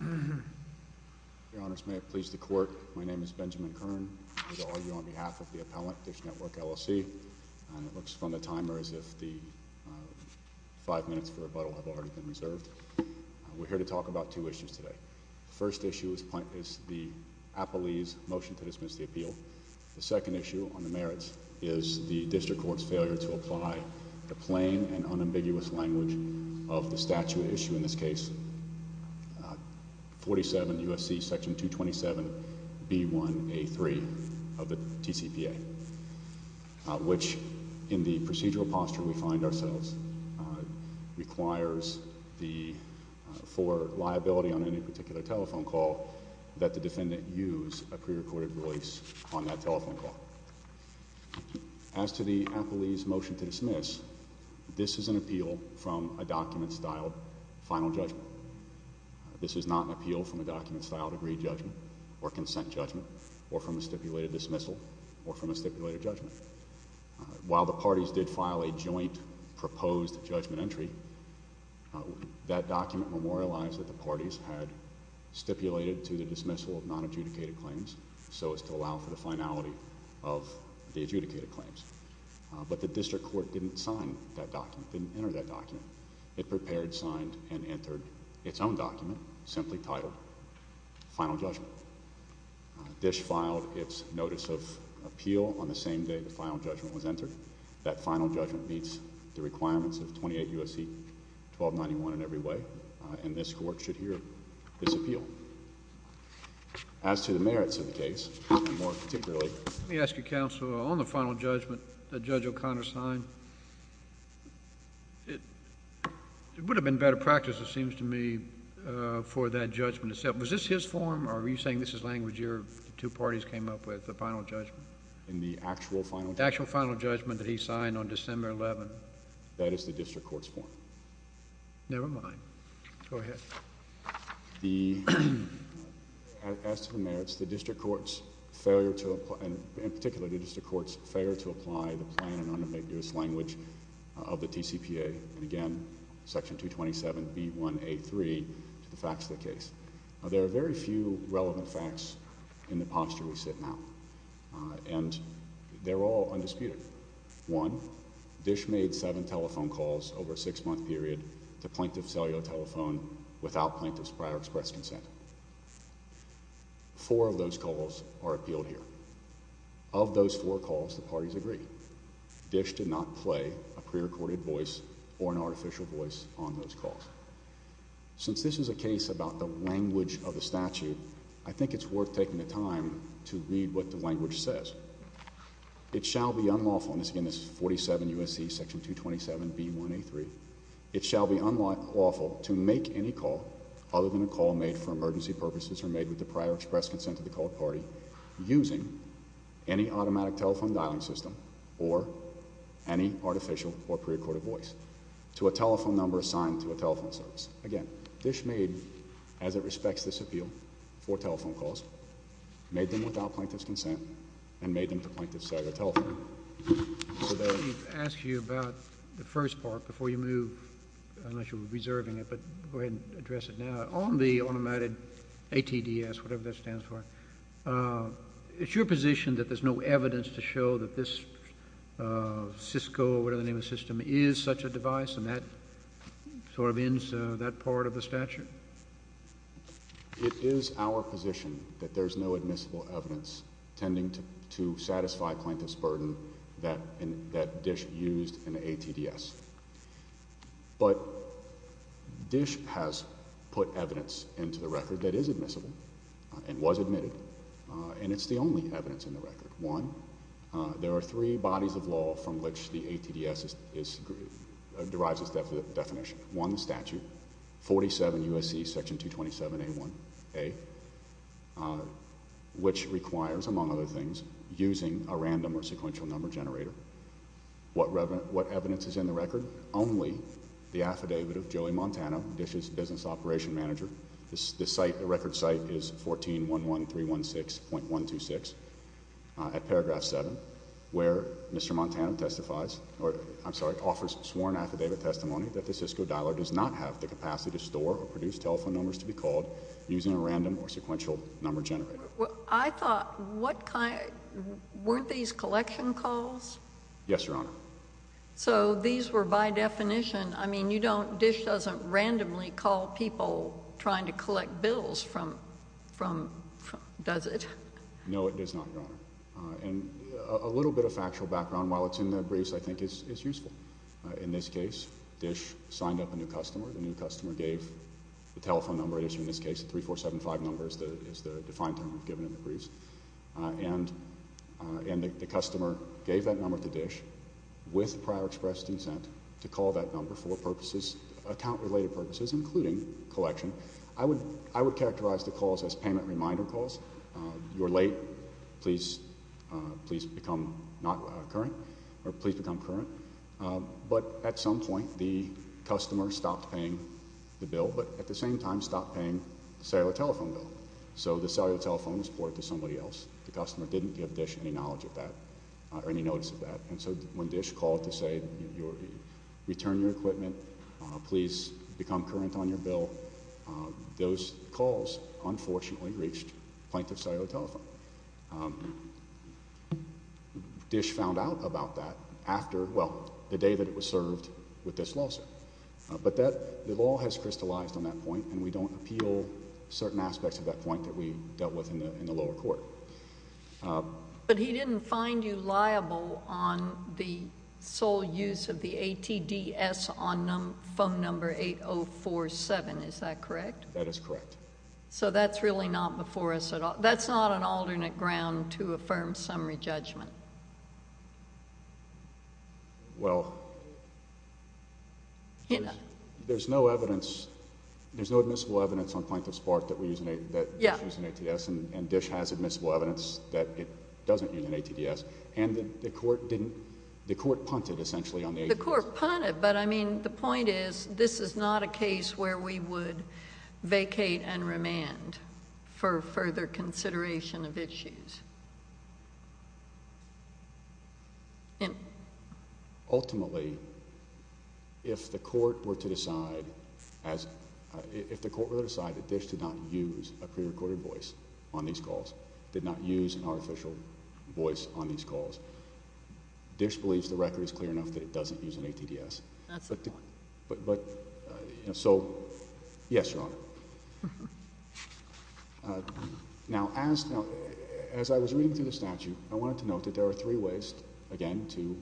Your Honors, may it please the Court, my name is Benjamin Kern, I'm here to argue on behalf of the appellant, Dish Network, L.L.C., and it looks from the timer as if the five minutes for rebuttal have already been reserved. We're here to talk about two issues today. First issue is the appellee's motion to dismiss the appeal. The second issue on the merits is the district court's failure to apply the plain and unambiguous language of the statute issue in this case, 47 U.S.C. section 227, B1A3 of the TCPA, which in the procedural posture we find ourselves requires for liability on any particular telephone call that the defendant use a prerecorded voice on that telephone call. As to the appellee's motion to dismiss, this is an appeal from a document-styled final judgment. This is not an appeal from a document-styled agreed judgment or consent judgment or from a stipulated dismissal or from a stipulated judgment. While the parties did file a joint proposed judgment entry, that document memorialized that the parties had stipulated to the dismissal of non-adjudicated claims so as to allow for the finality of the adjudicated claims. But the district court didn't sign that document, didn't enter that document. It prepared, signed, and entered its own document simply titled final judgment. Dish filed its notice of appeal on the same day the final judgment was entered. That final judgment meets the requirements of 28 U.S.C. 1291 in every way, and this court should hear this appeal. As to the merits of the case, and more particularly... Let me ask you, Counsel, on the final judgment that Judge O'Connor signed, it would have been better practice, it seems to me, for that judgment to... was this his form or are you saying this is language your two parties came up with, the final judgment? In the actual final judgment. The actual final judgment that he signed on December 11th. That is the district court's form. Never mind. Go ahead. The... as to the merits, the district court's failure to... in particular, the district court's failure to apply the plain and unambiguous language of the TCPA, and again, Section 227 B1A3, to the facts of the case. There are very few relevant facts in the posture we sit now, and they're all undisputed. One, Dish made seven telephone calls over a six-month period to Plaintiff Cellular Telephone without Plaintiff's prior express consent. Four of those calls are appealed here. Of those four calls, the parties agree. Dish did not play a pre-recorded voice or an artificial voice on those calls. Since this is a case about the language of the statute, I think it's worth taking the time to read what the language says. It shall be unlawful... and this, again, is 47 U.S.C. Section 227 B1A3. It shall be unlawful to make any call, other than a call made for emergency purposes or made with the prior express consent of the called party, using any automatic telephone dialing system or any artificial or pre-recorded voice, to a telephone number assigned to a telephone service. Again, Dish made, as it respects this appeal, four telephone calls, made them without Plaintiff's consent, and made them to Plaintiff's Cellular Telephone. So there... I'd like to ask you about the first part before you move, unless you're reserving it, but go ahead and address it now. On the automated ATDS, whatever that stands for, is your position that there's no evidence to show that this Cisco or whatever the name of the system is such a device and that sort of ends that part of the statute? It is our position that there's no admissible evidence tending to satisfy Plaintiff's burden that Dish used in the ATDS. But Dish has put evidence into the record that is admissible and was admitted, and it's the only evidence in the record. One, there are three bodies of law from which the ATDS derives its definition. One, the statute, 47 U.S.C. section 227A1A, which requires, among other things, using a random or sequential number generator. What evidence is in the record? Only the affidavit of Joey Montana, Dish's business operation manager. The site, the record site, is 1411316.126 at paragraph 7, where Mr. Montana testifies or, I'm sorry, offers sworn affidavit testimony that the Cisco dialer does not have the capacity to store or produce telephone numbers to be called using a random or sequential number generator. I thought, what kind, weren't these collection calls? Yes, Your Honor. So these were by definition, I mean, you don't, Dish doesn't randomly call people trying to collect bills from, does it? No, it does not, Your Honor. And a little bit of factual background, while it's in the briefs, I think is useful. In this case, Dish signed up a new customer. The new customer gave the telephone number, in this case, the 3475 number is the defined term we've given in the briefs, and the customer gave that number to Dish with prior express consent to call that number for purposes, account-related purposes, including collection. I would characterize the calls as payment reminder calls. You're late, please, please become not current, or please become current. But at some point, the customer stopped paying the bill, but at the same time stopped paying the cellular telephone bill. So the cellular telephone was poured to somebody else. The customer didn't give Dish any knowledge of that, or any notice of that. And so when Dish called to say, return your equipment, please become current on your bill, those calls, unfortunately, reached Plaintiff's Cellular Telephone. Dish found out about that after, well, the day that it was served with this lawsuit. But that, the law has crystallized on that point, and we don't appeal certain aspects of that point that we dealt with in the lower court. But he didn't find you liable on the sole use of the ATDS on phone number 8047, is that correct? That is correct. So that's really not before us at all. That's not an alternate ground to a firm summary judgment. Well, there's no evidence, there's no admissible evidence on Plaintiff's part that we're using ATDS, and Dish has admissible evidence that it doesn't use an ATDS. And the court didn't, the court punted, essentially, on the ATDS. The court punted, but I mean, the point is, this is not a case where we would vacate and remand for further consideration of issues. Ultimately, if the court were to decide, if the court were to decide that Dish did not use a prerecorded voice on these calls, did not use an artificial voice on these calls, Dish believes the record is clear enough that it doesn't use an ATDS. That's fine. But, you know, so, yes, Your Honor. Now as, now, as I was reading through the statute, I wanted to note that there are three ways, again, to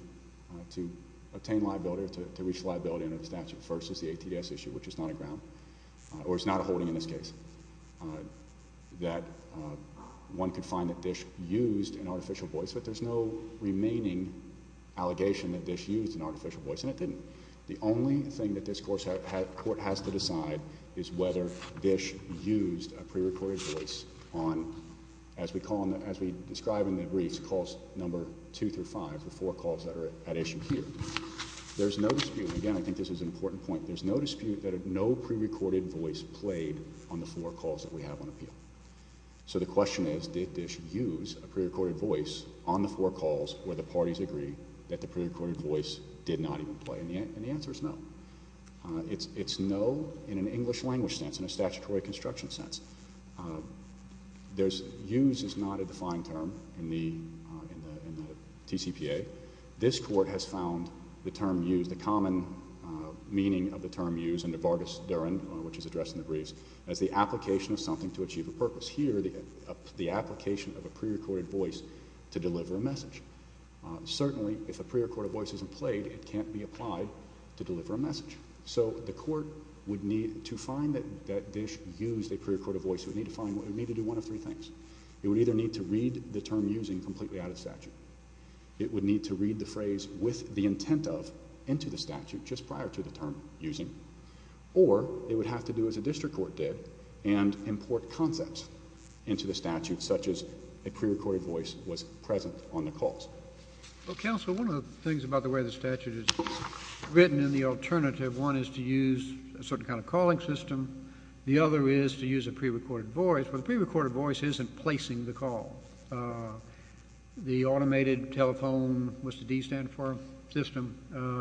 obtain liability or to reach liability under the statute. The first is the ATDS issue, which is not a ground, or is not a holding in this case. That one could find that Dish used an artificial voice, but there's no remaining allegation that Dish used an artificial voice, and it didn't. The only thing that this court has to decide is whether Dish used a prerecorded voice on, as we call them, as we describe in the briefs, calls number two through five, the four calls that are at issue here. There's no dispute. And again, I think this is an important point, there's no dispute that no prerecorded voice played on the four calls that we have on appeal. So the question is, did Dish use a prerecorded voice on the four calls where the parties agree that the prerecorded voice did not even play, and the answer is no. It's no in an English language sense, in a statutory construction sense. Use is not a defined term in the TCPA. This court has found the term use, the common meaning of the term use under Vargas-Durham, which is addressed in the briefs, as the application of something to achieve a purpose. Here the application of a prerecorded voice to deliver a message. Certainly if a prerecorded voice isn't played, it can't be applied to deliver a message. So the court would need to find that Dish used a prerecorded voice, it would need to find, it would need to do one of three things. It would either need to read the term using completely out of statute. It would need to read the phrase with the intent of, into the statute, just prior to the term using, or it would have to do as a district court did, and import concepts into the statute, such as a prerecorded voice was present on the calls. Well, counsel, one of the things about the way the statute is written in the alternative, one is to use a certain kind of calling system. The other is to use a prerecorded voice, but the prerecorded voice isn't placing the call. The automated telephone, what's the D stand for, system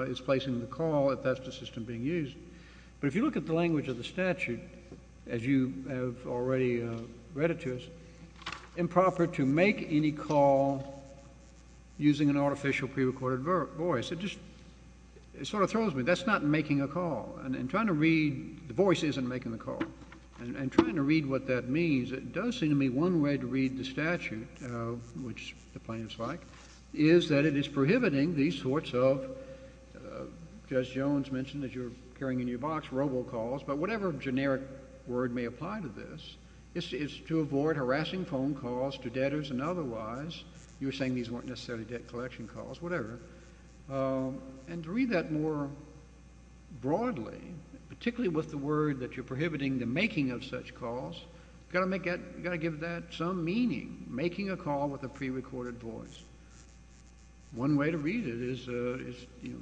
is placing the call if that's the system being used. But if you look at the language of the statute, as you have already read it to us, improper to make any call using an artificial prerecorded voice. It just, it sort of throws me, that's not making a call. And trying to read, the voice isn't making the call. And trying to read what that means, it does seem to me one way to read the statute, which the plaintiff's like, is that it is prohibiting these sorts of, Judge Jones mentioned that you're carrying in your box robocalls, but whatever generic word may apply to this, is to avoid harassing phone calls to debtors and otherwise. You were saying these weren't necessarily debt collection calls, whatever. And to read that more broadly, particularly with the word that you're prohibiting the making of such calls, you've got to give that some meaning, making a call with a prerecorded voice. One way to read it is,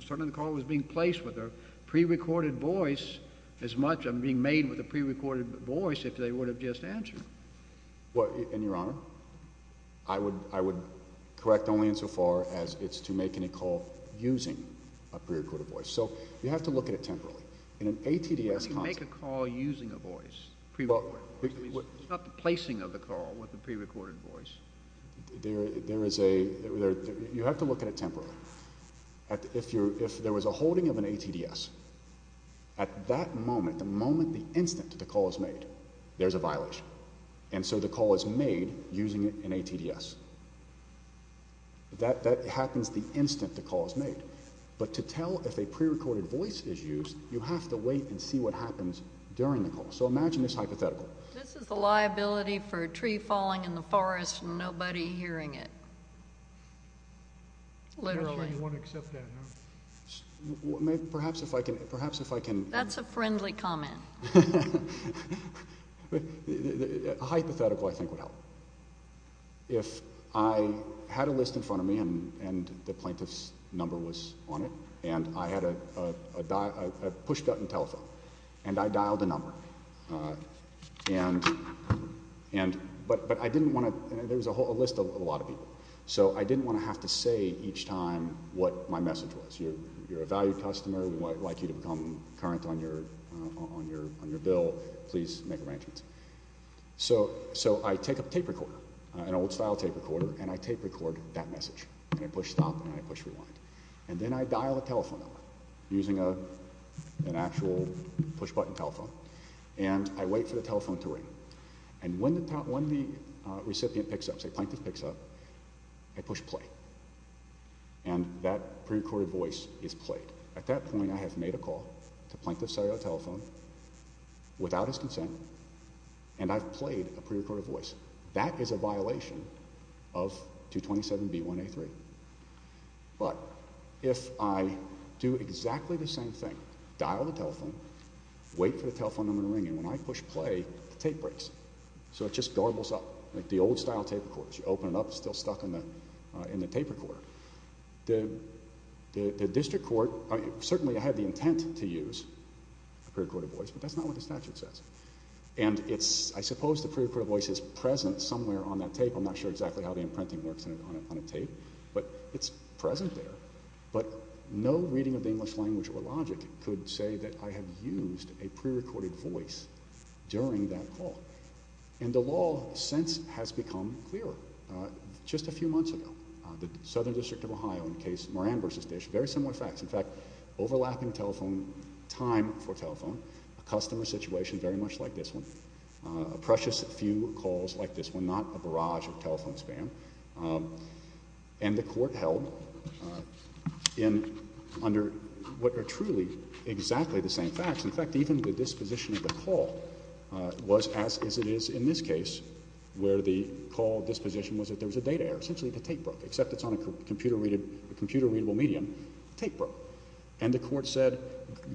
certainly the call was being placed with a prerecorded voice as much as being made with a prerecorded voice if they would have just answered. Well, and Your Honor, I would correct only insofar as it's to make any call using a prerecorded voice. So, you have to look at it temporarily. In an ATDS concept. But you make a call using a voice, prerecorded voice. It's not the placing of the call with a prerecorded voice. There is a, you have to look at it temporarily. If there was a holding of an ATDS, at that moment, the moment, the instant that the call is made, there's a violence. And so the call is made using an ATDS. That happens the instant the call is made. But to tell if a prerecorded voice is used, you have to wait and see what happens during the call. So imagine this hypothetical. This is the liability for a tree falling in the forest and nobody hearing it. Literally. I'm not sure you want to accept that, Your Honor. Perhaps if I can, perhaps if I can. That's a friendly comment. A hypothetical, I think, would help. If I had a list in front of me and the plaintiff's number was on it, and I had a push button telephone, and I dialed the number, and, but I didn't want to, there was a list of a lot of people. So I didn't want to have to say each time what my message was. You're a valued customer. We'd like you to become current on your bill. Please make arrangements. So I take a tape recorder, an old style tape recorder, and I tape record that message. And I push stop and I push rewind. And then I dial the telephone number using an actual push button telephone. And I wait for the telephone to ring. And when the recipient picks up, say plaintiff picks up, I push play. And that pre-recorded voice is played. At that point, I have made a call to plaintiff's cellular telephone without his consent, and I've played a pre-recorded voice. That is a violation of 227B1A3. But if I do exactly the same thing, dial the telephone, wait for the telephone number to ring, and when I push play, the tape breaks. So it just garbles up. Like the old style tape recorders, you open it up, it's still stuck in the tape recorder. The district court, certainly I had the intent to use a pre-recorded voice, but that's not what the statute says. And I suppose the pre-recorded voice is present somewhere on that tape. I'm not sure exactly how the imprinting works on a tape, but it's present there. But no reading of the English language or logic could say that I have used a pre-recorded voice during that call. And the law since has become clearer. Just a few months ago, the Southern District of Ohio in the case Moran v. Dish, very similar facts. In fact, overlapping telephone time for telephone, a customer situation very much like this one, a precious few calls like this one, not a barrage of telephone spam. And the court held under what are truly exactly the same facts. In fact, even the disposition of the call was as it is in this case, where the call disposition was that there was a data error. Essentially, the tape broke. Except it's on a computer-readable medium. The tape broke. And the court said,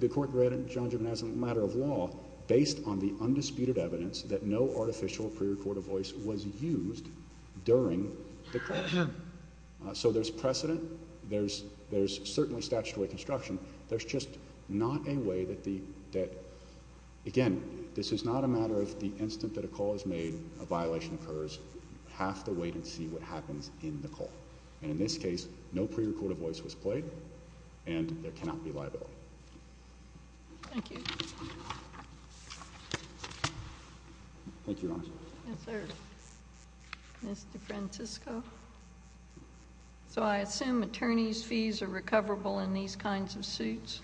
the court read John Giovanazzi's matter of law based on the undisputed evidence that no artificial pre-recorded voice was used during the call. So there's precedent. There's certainly statutory construction. There's just not a way that, again, this is not a matter of the instant that a call is made, a violation occurs. You have to wait and see what happens in the call. And in this case, no pre-recorded voice was played, and there cannot be liability. Thank you. Thank you, Your Honor. Yes, sir. Mr. Francisco. So I assume attorneys' fees are recoverable in these kinds of suits?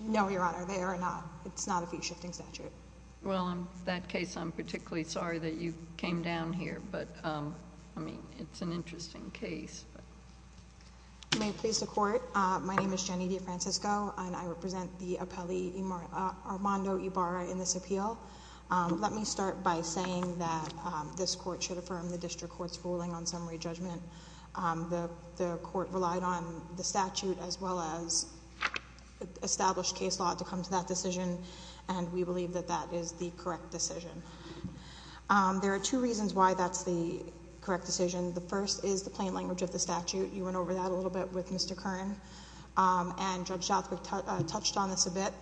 No, Your Honor. They are not. It's not a fee-shifting statute. Well, in that case, I'm particularly sorry that you came down here. But, I mean, it's an interesting case. May it please the Court, my name is Jenny DeFrancisco, and I represent the appellee Armando Ibarra in this appeal. Let me start by saying that this Court should affirm the district court's ruling on summary judgment. The Court relied on the statute as well as established case law to come to that decision, and we believe that that is the correct decision. There are two reasons why that's the correct decision. The first is the plain language of the statute. You went over that a little bit with Mr. Kern. And Judge Shothwick touched on this a bit,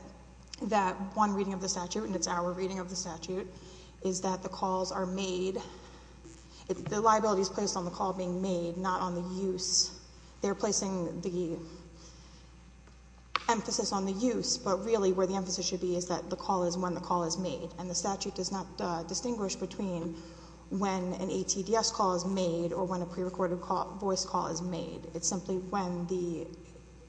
that one reading of the statute, and it's our reading of the statute, is that the calls are made, the liability is placed on the call being made, not on the use. They're placing the emphasis on the use, but really where the emphasis should be is that the call is when the call is made. And the statute does not distinguish between when an ATDS call is made or when a prerecorded voice call is made. It's simply when the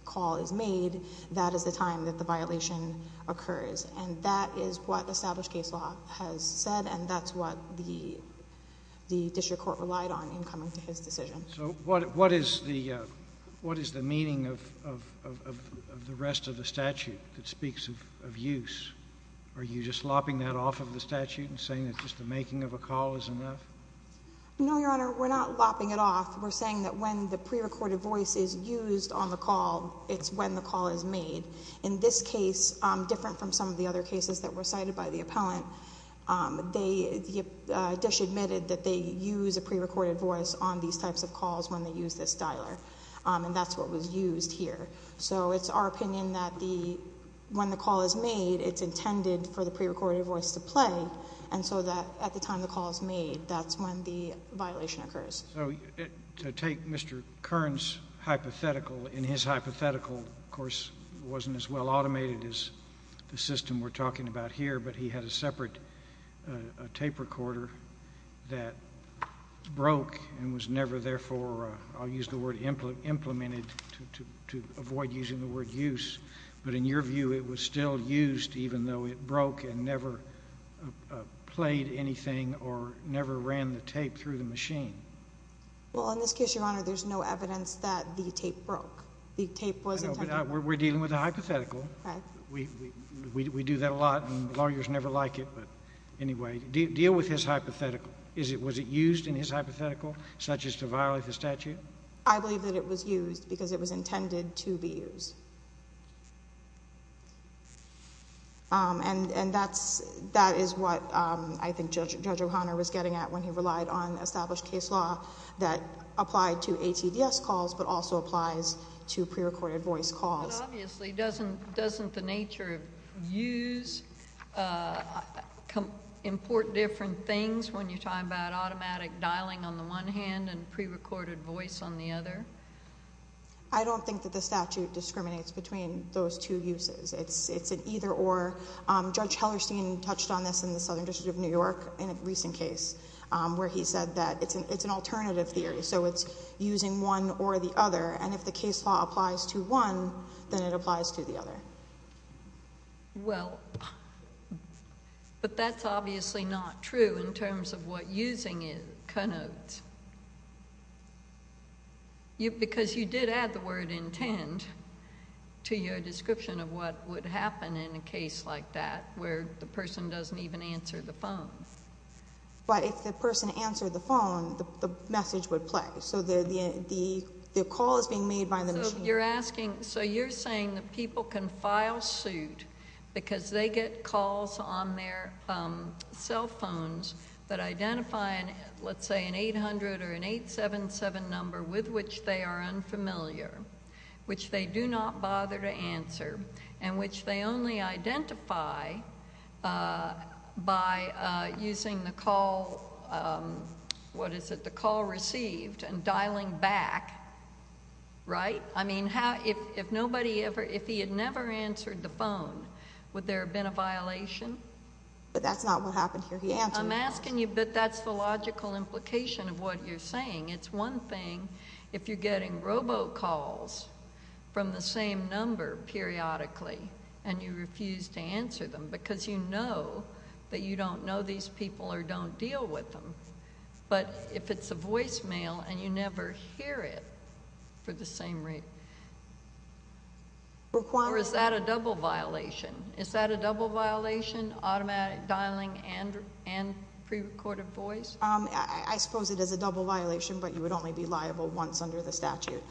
call is made, that is the time that the violation occurs. And that is what established case law has said, and that's what the district court relied on in coming to his decision. So what is the meaning of the rest of the statute that speaks of use? Are you just lopping that off of the statute and saying that just the making of a call is enough? No, Your Honor, we're not lopping it off. We're saying that when the prerecorded voice is used on the call, it's when the call is made. In this case, different from some of the other cases that were cited by the appellant, they disadmitted that they use a prerecorded voice on these types of calls when they use this dialer. And that's what was used here. So it's our opinion that when the call is made, it's intended for the prerecorded voice to play, and so that at the time the call is made, that's when the violation occurs. So to take Mr. Kern's hypothetical, and his hypothetical, of course, wasn't as well automated as the system we're talking about here, but he had a separate tape recorder that broke and was never, therefore, I'll use the word implemented to avoid using the word use. But in your view, it was still used, even though it broke and never played anything or never ran the tape through the machine? Well, in this case, Your Honor, there's no evidence that the tape broke. The tape was intended to break. We're dealing with a hypothetical. We do that a lot, and lawyers never like it. But anyway, deal with his hypothetical. Was it used in his hypothetical, such as to violate the statute? I believe that it was used because it was intended to be used. And that is what I think Judge O'Connor was getting at when he relied on established case law that applied to ATDS calls but also applies to prerecorded voice calls. But obviously, doesn't the nature of use import different things when you're talking about automatic dialing on the one hand and prerecorded voice on the other? I don't think that the statute discriminates between those two uses. It's an either-or. Judge Hellerstein touched on this in the Southern District of New York in a recent case where he said that it's an alternative theory, so it's using one or the other, and if the case law applies to one, then it applies to the other. Well, but that's obviously not true in terms of what using it connotes. Because you did add the word intend to your description of what would happen in a case like that where the person doesn't even answer the phone. But if the person answered the phone, the message would play. So you're saying that people can file suit because they get calls on their cell phones that identify, let's say, an 800 or an 877 number with which they are unfamiliar, which they do not bother to answer, and which they only identify by using the call received and dialing back, right? I mean, if he had never answered the phone, would there have been a violation? But that's not what happened here. He answered. I'm asking you, but that's the logical implication of what you're saying. It's one thing if you're getting robo-calls from the same number periodically and you refuse to answer them because you know that you don't know these people or don't deal with them, but if it's a voicemail and you never hear it for the same rate, is that a double violation? Is that a double violation, automatic dialing and pre-recorded voice? I suppose it is a double violation, but you would only be liable once under the statute.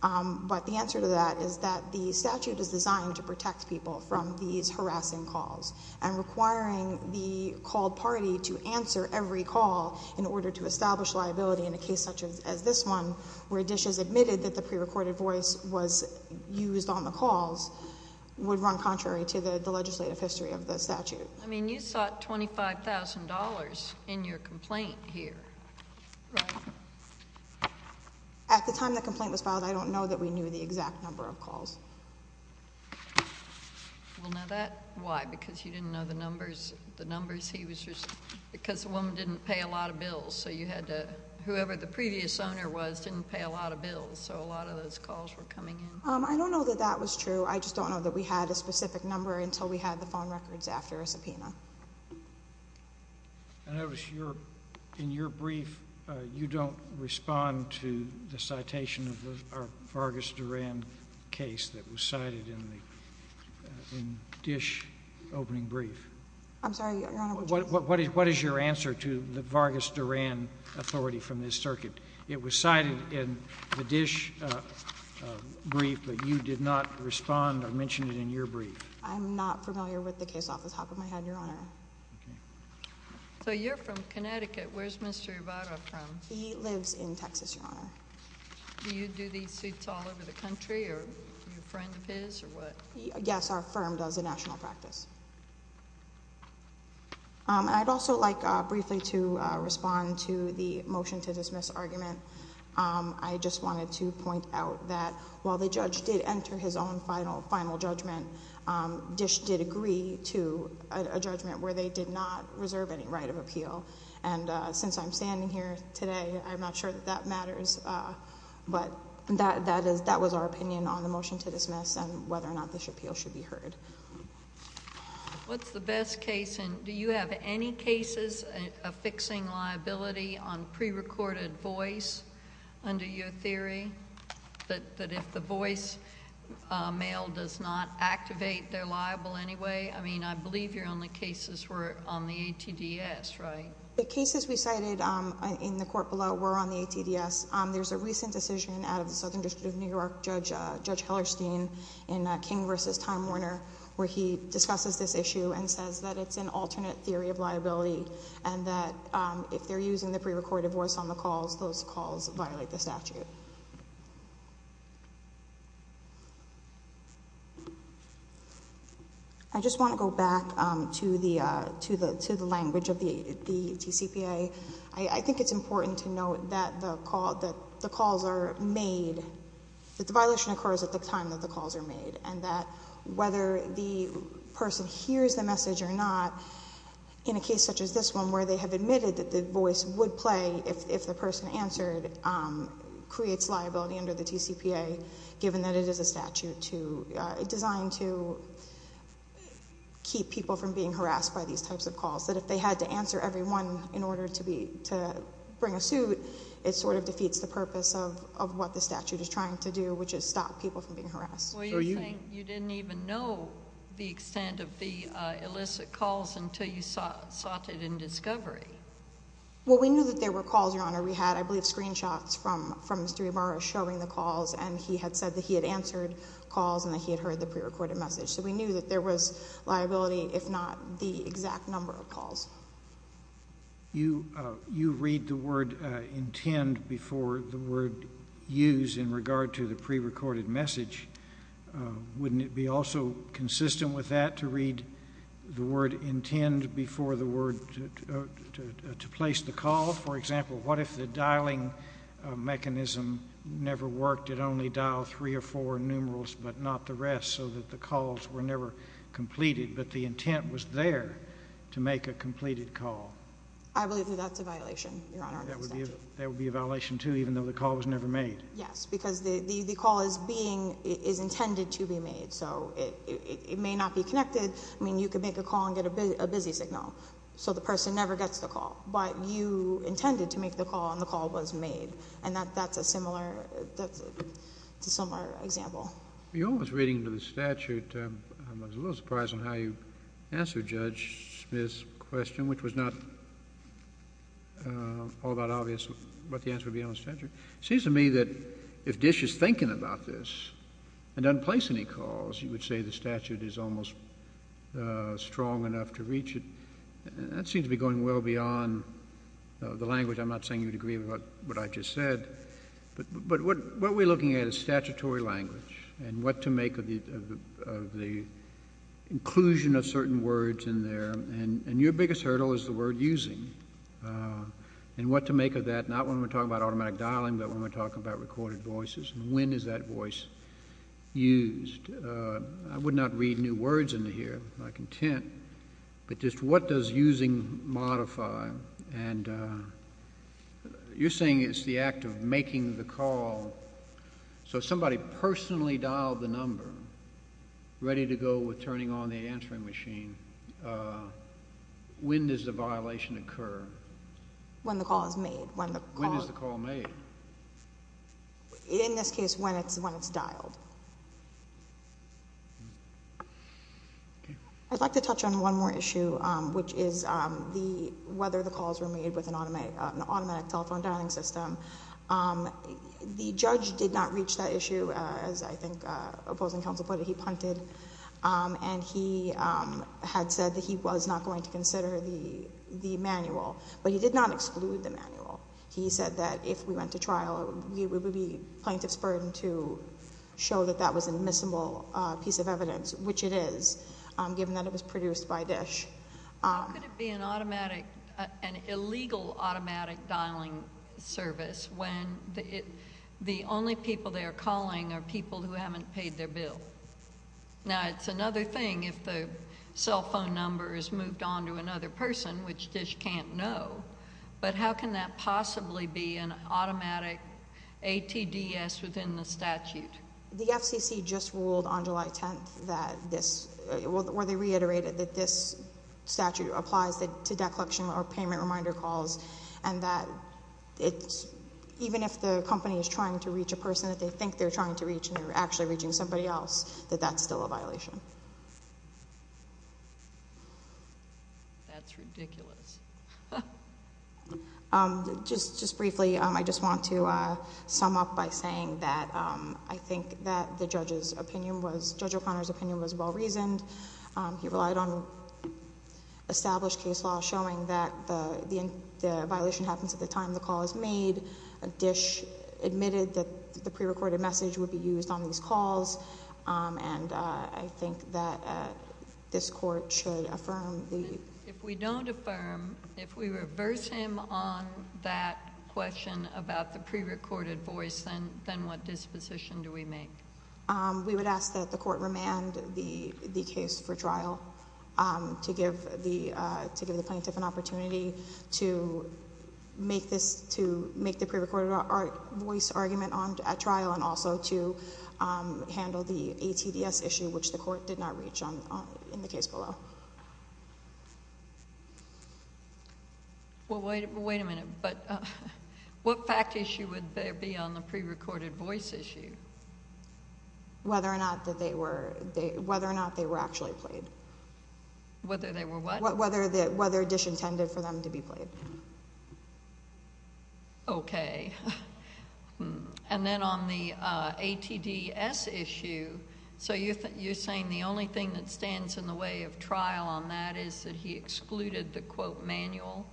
But the answer to that is that the statute is designed to protect people from these harassing calls and requiring the called party to answer every call in order to establish liability in a case such as this one, where Dish has admitted that the pre-recorded voice was used on the calls, would run contrary to the legislative history of the statute. I mean, you sought $25,000 in your complaint here, right? At the time the complaint was filed, I don't know that we knew the exact number of calls. Well, now that, why? Because you didn't know the numbers he was receiving? Because the woman didn't pay a lot of bills, so you had to, whoever the previous owner was didn't pay a lot of bills, so a lot of those calls were coming in. I don't know that that was true. I just don't know that we had a specific number until we had the phone records after a subpoena. In your brief, you don't respond to the citation of the Vargas Duran case that was cited in the Dish opening brief. I'm sorry, Your Honor. What is your answer to the Vargas Duran authority from this circuit? It was cited in the Dish brief, but you did not respond or mention it in your brief. I'm not familiar with the case off the top of my head, Your Honor. So you're from Connecticut. Where's Mr. Ybarra from? He lives in Texas, Your Honor. Do you do these suits all over the country? Are you a friend of his or what? Yes, our firm does a national practice. I'd also like briefly to respond to the motion to dismiss argument. I just wanted to point out that while the judge did enter his own final judgment, Dish did agree to a judgment where they did not reserve any right of appeal. And since I'm standing here today, I'm not sure that that matters. But that was our opinion on the motion to dismiss and whether or not this appeal should be heard. What's the best case? Do you have any cases of fixing liability on prerecorded voice under your theory, that if the voice mail does not activate, they're liable anyway? I mean, I believe your only cases were on the ATDS, right? The cases we cited in the court below were on the ATDS. There's a recent decision out of the Southern District of New York, Judge Hellerstein, in King versus Time Warner, where he discusses this issue and says that it's an alternate theory of liability. And that if they're using the prerecorded voice on the calls, those calls violate the statute. I just want to go back to the language of the TCPA. I think it's important to note that the calls are made, that the violation occurs at the time that the calls are made. And that whether the person hears the message or not, in a case such as this one, where they have admitted that the voice would play if the person answered, creates liability under the TCPA, given that it is a statute designed to keep people from being harassed by these types of calls. That if they had to answer every one in order to bring a suit, it sort of defeats the purpose of what the statute is trying to do, which is stop people from being harassed. Well, you think you didn't even know the extent of the illicit calls until you sought it in discovery? Well, we knew that there were calls, Your Honor. We had, I believe, screenshots from Mr. Ybarra showing the calls, and he had said that he had answered calls and that he had heard the prerecorded message. So we knew that there was liability, if not the exact number of calls. You read the word intend before the word use in regard to the prerecorded message. Wouldn't it be also consistent with that to read the word intend before the word to place the call? For example, what if the dialing mechanism never worked? It only dialed three or four numerals, but not the rest, so that the calls were never completed, but the intent was there to make a completed call? I believe that that's a violation, Your Honor. That would be a violation, too, even though the call was never made? Yes, because the call is intended to be made, so it may not be connected. I mean, you could make a call and get a busy signal, so the person never gets the call. But you intended to make the call, and the call was made. And that's a similar example. Your Honor's reading of the statute, I was a little surprised on how you answered Judge Smith's question, which was not all that obvious what the answer would be on the statute. It seems to me that if Dish is thinking about this and doesn't place any calls, you would say the statute is almost strong enough to reach it. That seems to be going well beyond the language. I'm not saying you'd agree with what I just said. But what we're looking at is statutory language and what to make of the inclusion of certain words in there. And your biggest hurdle is the word using and what to make of that, not when we're talking about automatic dialing, but when we're talking about recorded voices and when is that voice used. I would not read new words into here, if I'm content. But just what does using modify? And you're saying it's the act of making the call. So somebody personally dialed the number, ready to go with turning on the answering machine. When does the violation occur? When the call is made. When is the call made? In this case, when it's dialed. I'd like to touch on one more issue, which is whether the calls were made with an automatic telephone dialing system. The judge did not reach that issue, as I think opposing counsel put it. He punted. And he had said that he was not going to consider the manual. But he did not exclude the manual. He said that if we went to trial, it would be plaintiff's burden to show that that was admissible piece of evidence, which it is, given that it was produced by DISH. How could it be an automatic, an illegal automatic dialing service, when the only people they are calling are people who haven't paid their bill? Now, it's another thing if the cell phone number is moved on to another person, which DISH can't know. But how can that possibly be an automatic ATDS within the statute? The FCC just ruled on July 10th that this, or they reiterated that this statute applies to debt collection or payment reminder calls, and that even if the company is trying to reach a person that they think they're trying to reach and they're actually reaching somebody else, that that's still a violation. That's ridiculous. Just briefly, I just want to sum up by saying that I think that the judge's opinion was, Judge O'Connor's opinion was well reasoned. He relied on established case law showing that the violation happens at the time the call is made. DISH admitted that the prerecorded message would be used on these calls. And I think that this court should affirm the- If we don't affirm, if we reverse him on that question about the prerecorded voice, then what disposition do we make? We would ask that the court remand the case for trial to give the plaintiff an opportunity to make the prerecorded voice argument at trial and also to handle the ATDS issue, which the court did not reach in the case below. Well, wait a minute. What fact issue would there be on the prerecorded voice issue? Whether or not they were actually played. Whether they were what? Whether DISH intended for them to be played. Okay. And then on the ATDS issue, so you're saying the only thing that stands in the way of trial on that is that he excluded the quote manual?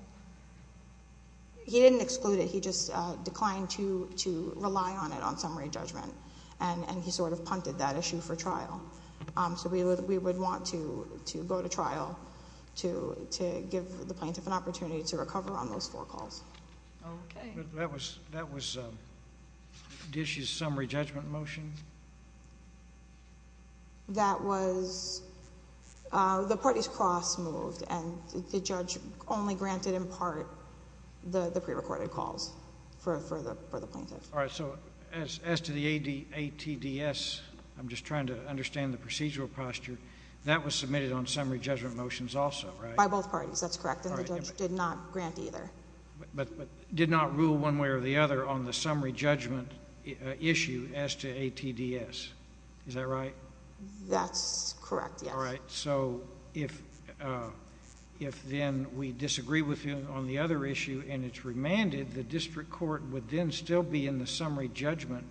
He didn't exclude it. He just declined to rely on it on summary judgment, and he sort of punted that issue for trial. So we would want to go to trial to give the plaintiff an opportunity to recover on those four calls. Okay. That was DISH's summary judgment motion? That was the parties cross-moved, and the judge only granted in part the prerecorded calls for the plaintiff. All right. So as to the ATDS, I'm just trying to understand the procedural posture. That was submitted on summary judgment motions also, right? By both parties. That's correct, and the judge did not grant either. But did not rule one way or the other on the summary judgment issue as to ATDS. Is that right? That's correct, yes. All right. So if then we disagree with you on the other issue and it's remanded, the district court would then still be in the summary judgment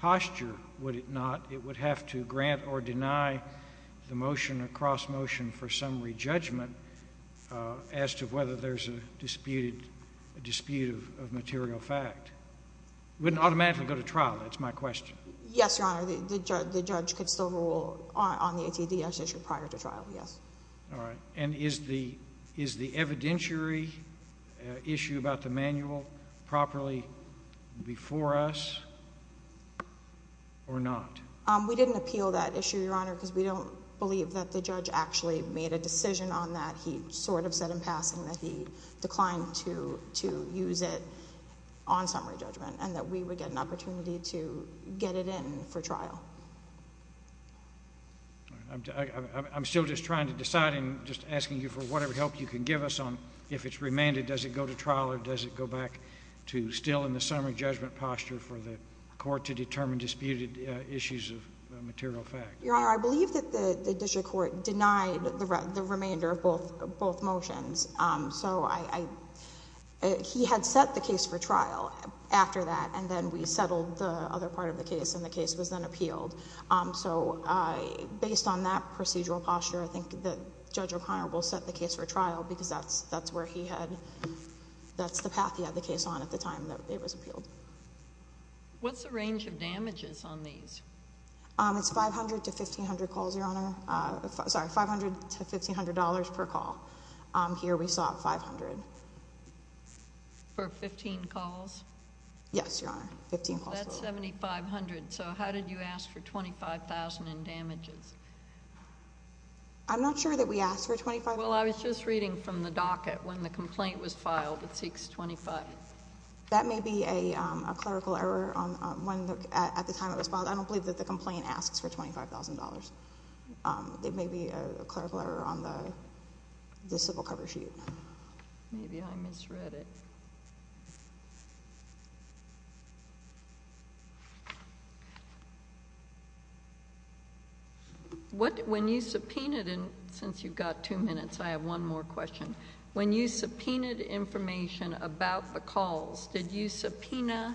posture, would it not? It would have to grant or deny the motion or cross-motion for summary judgment as to whether there's a dispute of material fact. It wouldn't automatically go to trial. That's my question. Yes, Your Honor. The judge could still rule on the ATDS issue prior to trial, yes. All right. And is the evidentiary issue about the manual properly before us or not? We didn't appeal that issue, Your Honor, because we don't believe that the judge actually made a decision on that. He sort of said in passing that he declined to use it on summary judgment and that we would get an opportunity to get it in for trial. All right. I'm still just trying to decide and just asking you for whatever help you can give us on if it's remanded, does it go to trial, or does it go back to still in the summary judgment posture for the court to determine disputed issues of material fact? Your Honor, I believe that the district court denied the remainder of both motions. So he had set the case for trial after that, and then we settled the other part of the case, and the case was then appealed. So based on that procedural posture, I think that Judge O'Connor will set the case for trial because that's where he had, that's the path he had the case on at the time that it was appealed. What's the range of damages on these? It's $500 to $1,500 per call. Here we saw $500. For 15 calls? Yes, Your Honor, 15 calls. That's $7,500. So how did you ask for $25,000 in damages? I'm not sure that we asked for $25,000. Well, I was just reading from the docket when the complaint was filed with 625. That may be a clerical error at the time it was filed. I don't believe that the complaint asks for $25,000. It may be a clerical error on the civil cover sheet. Maybe I misread it. When you subpoenaed, and since you've got two minutes, I have one more question. When you subpoenaed information about the calls, did you subpoena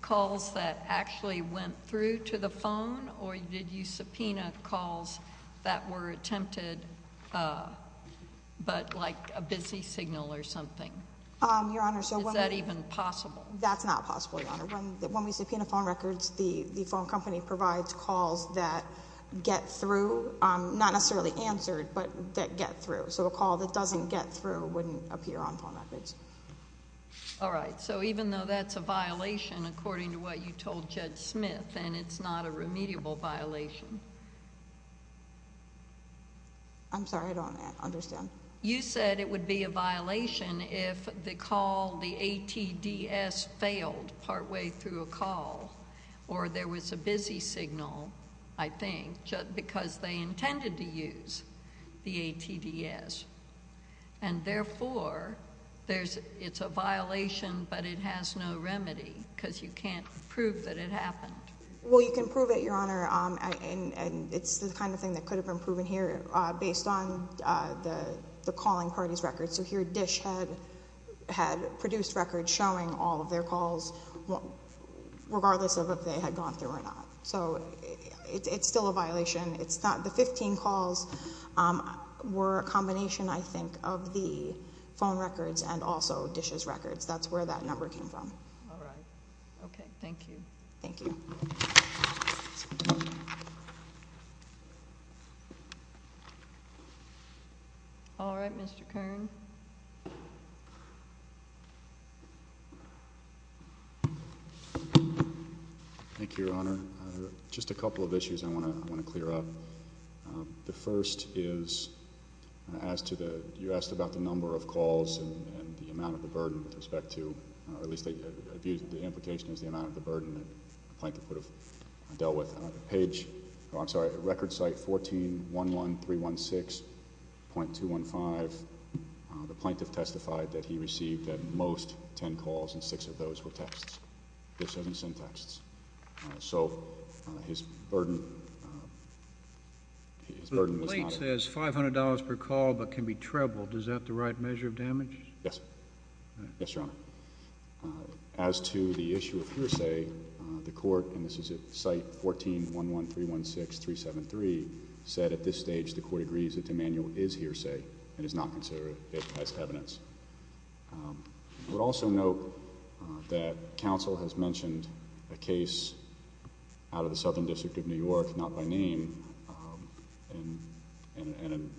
calls that actually went through to the phone, or did you subpoena calls that were attempted but like a busy signal or something? Is that even possible? That's not possible, Your Honor. When we subpoena phone records, the phone company provides calls that get through, not necessarily answered, but that get through. So a call that doesn't get through wouldn't appear on phone records. All right. So even though that's a violation according to what you told Judge Smith, and it's not a remediable violation? I'm sorry. I don't understand. You said it would be a violation if the call, the ATDS, failed partway through a call, or there was a busy signal, I think, because they intended to use the ATDS. And therefore, it's a violation, but it has no remedy because you can't prove that it happened. Well, you can prove it, Your Honor, and it's the kind of thing that could have been proven here based on the calling party's records. So here, Dish had produced records showing all of their calls, regardless of if they had gone through or not. So it's still a violation. The 15 calls were a combination, I think, of the phone records and also Dish's records. That's where that number came from. All right. Okay. Thank you. Thank you. All right. Mr. Kern. Thank you, Your Honor. Just a couple of issues I want to clear up. The first is, you asked about the number of calls and the amount of the burden with respect to, or at least the implication is the amount of the burden that Plankett would have dealt with. I'm sorry, record site 1411316.215. The plaintiff testified that he received at most 10 calls, and six of those were texts. Dish doesn't send texts. So his burden was not. The plate says $500 per call but can be trebled. Is that the right measure of damage? Yes. Yes, Your Honor. As to the issue of hearsay, the court, and this is at site 1411316.373, said at this stage the court agrees that the manual is hearsay and is not considered it as evidence. I would also note that counsel has mentioned a case out of the Southern District of New York, not by name, and in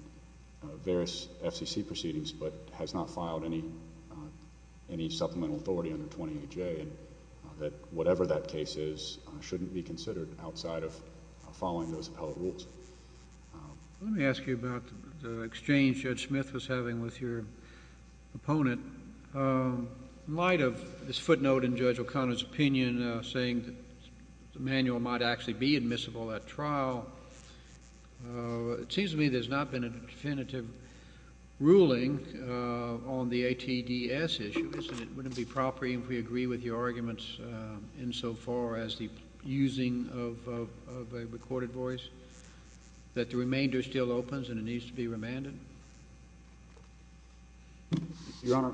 various FCC proceedings, but has not filed any supplemental authority under 20AJ, and that whatever that case is shouldn't be considered outside of following those appellate rules. Let me ask you about the exchange Judge Smith was having with your opponent. In light of this footnote in Judge O'Connor's opinion saying the manual might actually be admissible at trial, it seems to me there's not been a definitive ruling on the ATDS issue. Wouldn't it be appropriate if we agree with your arguments insofar as the using of a recorded voice, that the remainder still opens and it needs to be remanded? Your Honor,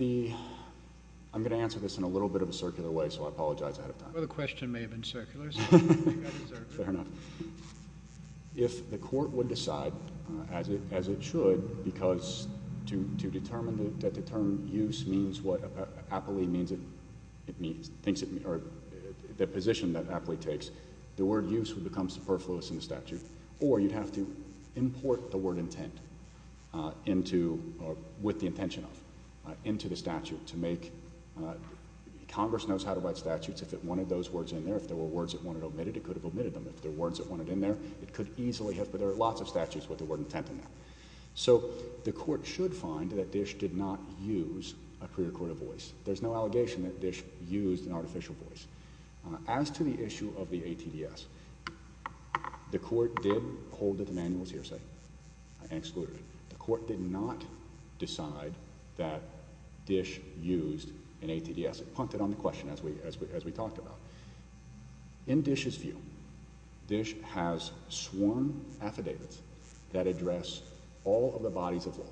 I'm going to answer this in a little bit of a circular way, so I apologize ahead of time. Well, the question may have been circular, so I think I deserve it. Fair enough. If the court would decide, as it should, because to determine that the term use means what appellee means it means, the position that appellee takes, the word use would become superfluous in the statute, or you'd have to import the word intent into, or with the intention of, into the statute to make, Congress knows how to write statutes. If it wanted those words in there, if there were words it wanted omitted, it could have omitted them. If there were words it wanted in there, it could easily have, but there are lots of statutes with the word intent in there. So the court should find that Dish did not use a pre-recorded voice. There's no allegation that Dish used an artificial voice. As to the issue of the ATDS, the court did hold it an annual hearsay and excluded it. The court did not decide that Dish used an ATDS. It punted on the question, as we talked about. In Dish's view, Dish has sworn affidavits that address all of the bodies of law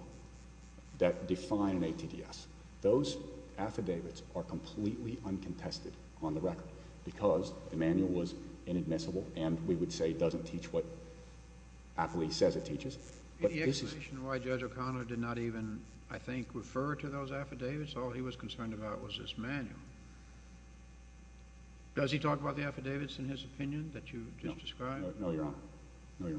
that define an ATDS. Those affidavits are completely uncontested on the record, because the manual was inadmissible, and we would say it doesn't teach what AFLI says it teaches. The explanation why Judge O'Connor did not even, I think, refer to those affidavits, all he was concerned about was this manual. Does he talk about the affidavits in his opinion that you just described? No, Your Honor.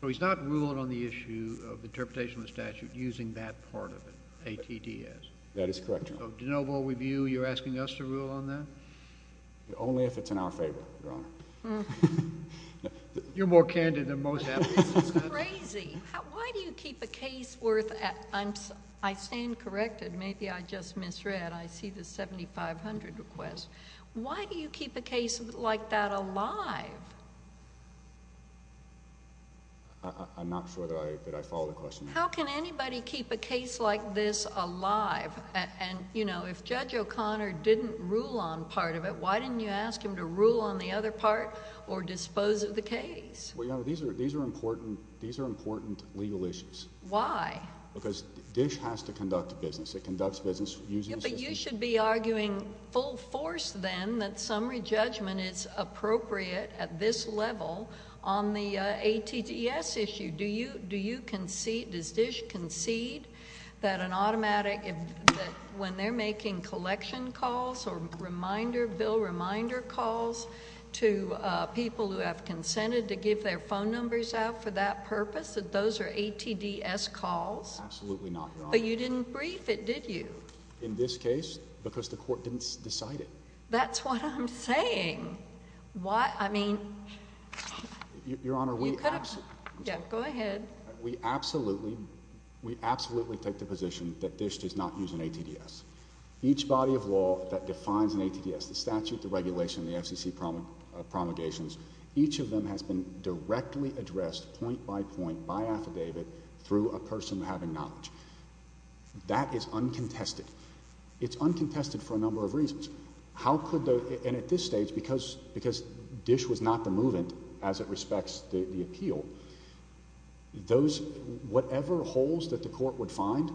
So he's not ruling on the issue of interpretation of the statute using that part of it, ATDS? That is correct, Your Honor. So, de novo review, you're asking us to rule on that? Only if it's in our favor, Your Honor. You're more candid than most AFLIs. This is crazy. Why do you keep a case worth, I stand corrected, maybe I just misread, I see the 7500 request. Why do you keep a case like that alive? I'm not sure that I follow the question. How can anybody keep a case like this alive? And, you know, if Judge O'Connor didn't rule on part of it, why didn't you ask him to rule on the other part or dispose of the case? Well, Your Honor, these are important legal issues. Why? Because DISH has to conduct business. It conducts business using the system. But you should be arguing full force then that summary judgment is appropriate at this level on the ATDS issue. Do you concede, does DISH concede that an automatic, that when they're making collection calls or reminder, bill reminder calls, to people who have consented to give their phone numbers out for that purpose, that those are ATDS calls? Absolutely not, Your Honor. But you didn't brief it, did you? In this case? Because the court didn't decide it. That's what I'm saying. Why? I mean, you could have, yeah, go ahead. We absolutely, we absolutely take the position that DISH does not use an ATDS. Each body of law that defines an ATDS, the statute, the regulation, the FCC promulgations, each of them has been directly addressed point by point by affidavit through a person having knowledge. That is uncontested. It's uncontested for a number of reasons. How could the, and at this stage, because DISH was not the movement as it respects the appeal, those, whatever holes that the court would find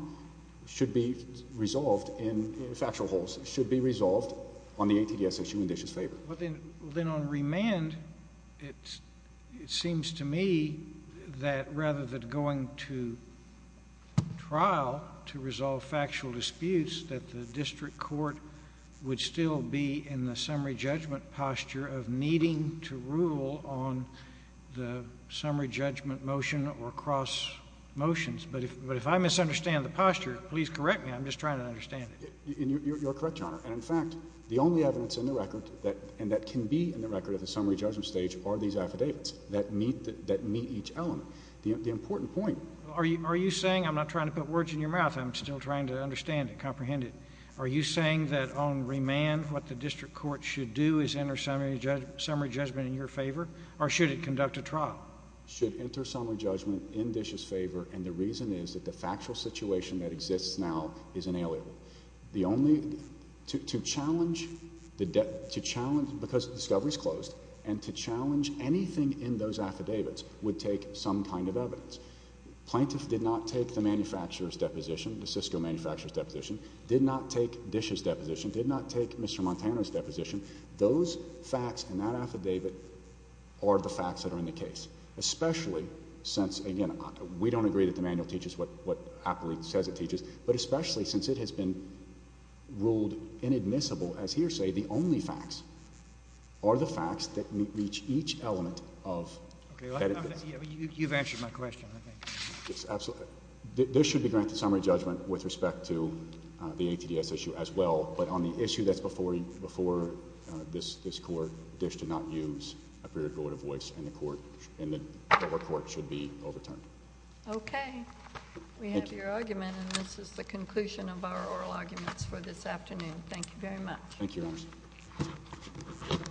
should be resolved in, factual holes, should be resolved on the ATDS issue in DISH's favor. Well, then on remand, it seems to me that rather than going to trial to resolve factual disputes, that the district court would still be in the summary judgment posture of needing to rule on the summary judgment motion or cross motions. But if I misunderstand the posture, please correct me. I'm just trying to understand it. You're correct, Your Honor. And, in fact, the only evidence in the record, and that can be in the record at the summary judgment stage, are these affidavits that meet each element. The important point. Are you saying, I'm not trying to put words in your mouth, I'm still trying to understand it, comprehend it. Are you saying that on remand, what the district court should do is enter summary judgment in your favor, or should it conduct a trial? Should enter summary judgment in DISH's favor, and the reason is that the factual situation that exists now is inalienable. The only, to challenge, because the discovery is closed, and to challenge anything in those affidavits would take some kind of evidence. Plaintiff did not take the manufacturer's deposition, the Cisco manufacturer's deposition, did not take DISH's deposition, did not take Mr. Montana's deposition. Those facts in that affidavit are the facts that are in the case, especially since, again, we don't agree that the manual teaches what appellate says it teaches, but especially since it has been ruled inadmissible as hearsay, the only facts are the facts that meet each element of the affidavit. You've answered my question, I think. Yes, absolutely. This should be granted summary judgment with respect to the ATDS issue as well, but on the issue that's before this Court, DISH did not use a period of voice, and the Court should be overturned. Okay. We have your argument, and this is the conclusion of our oral arguments for this afternoon. Thank you very much. Thank you, Your Honor.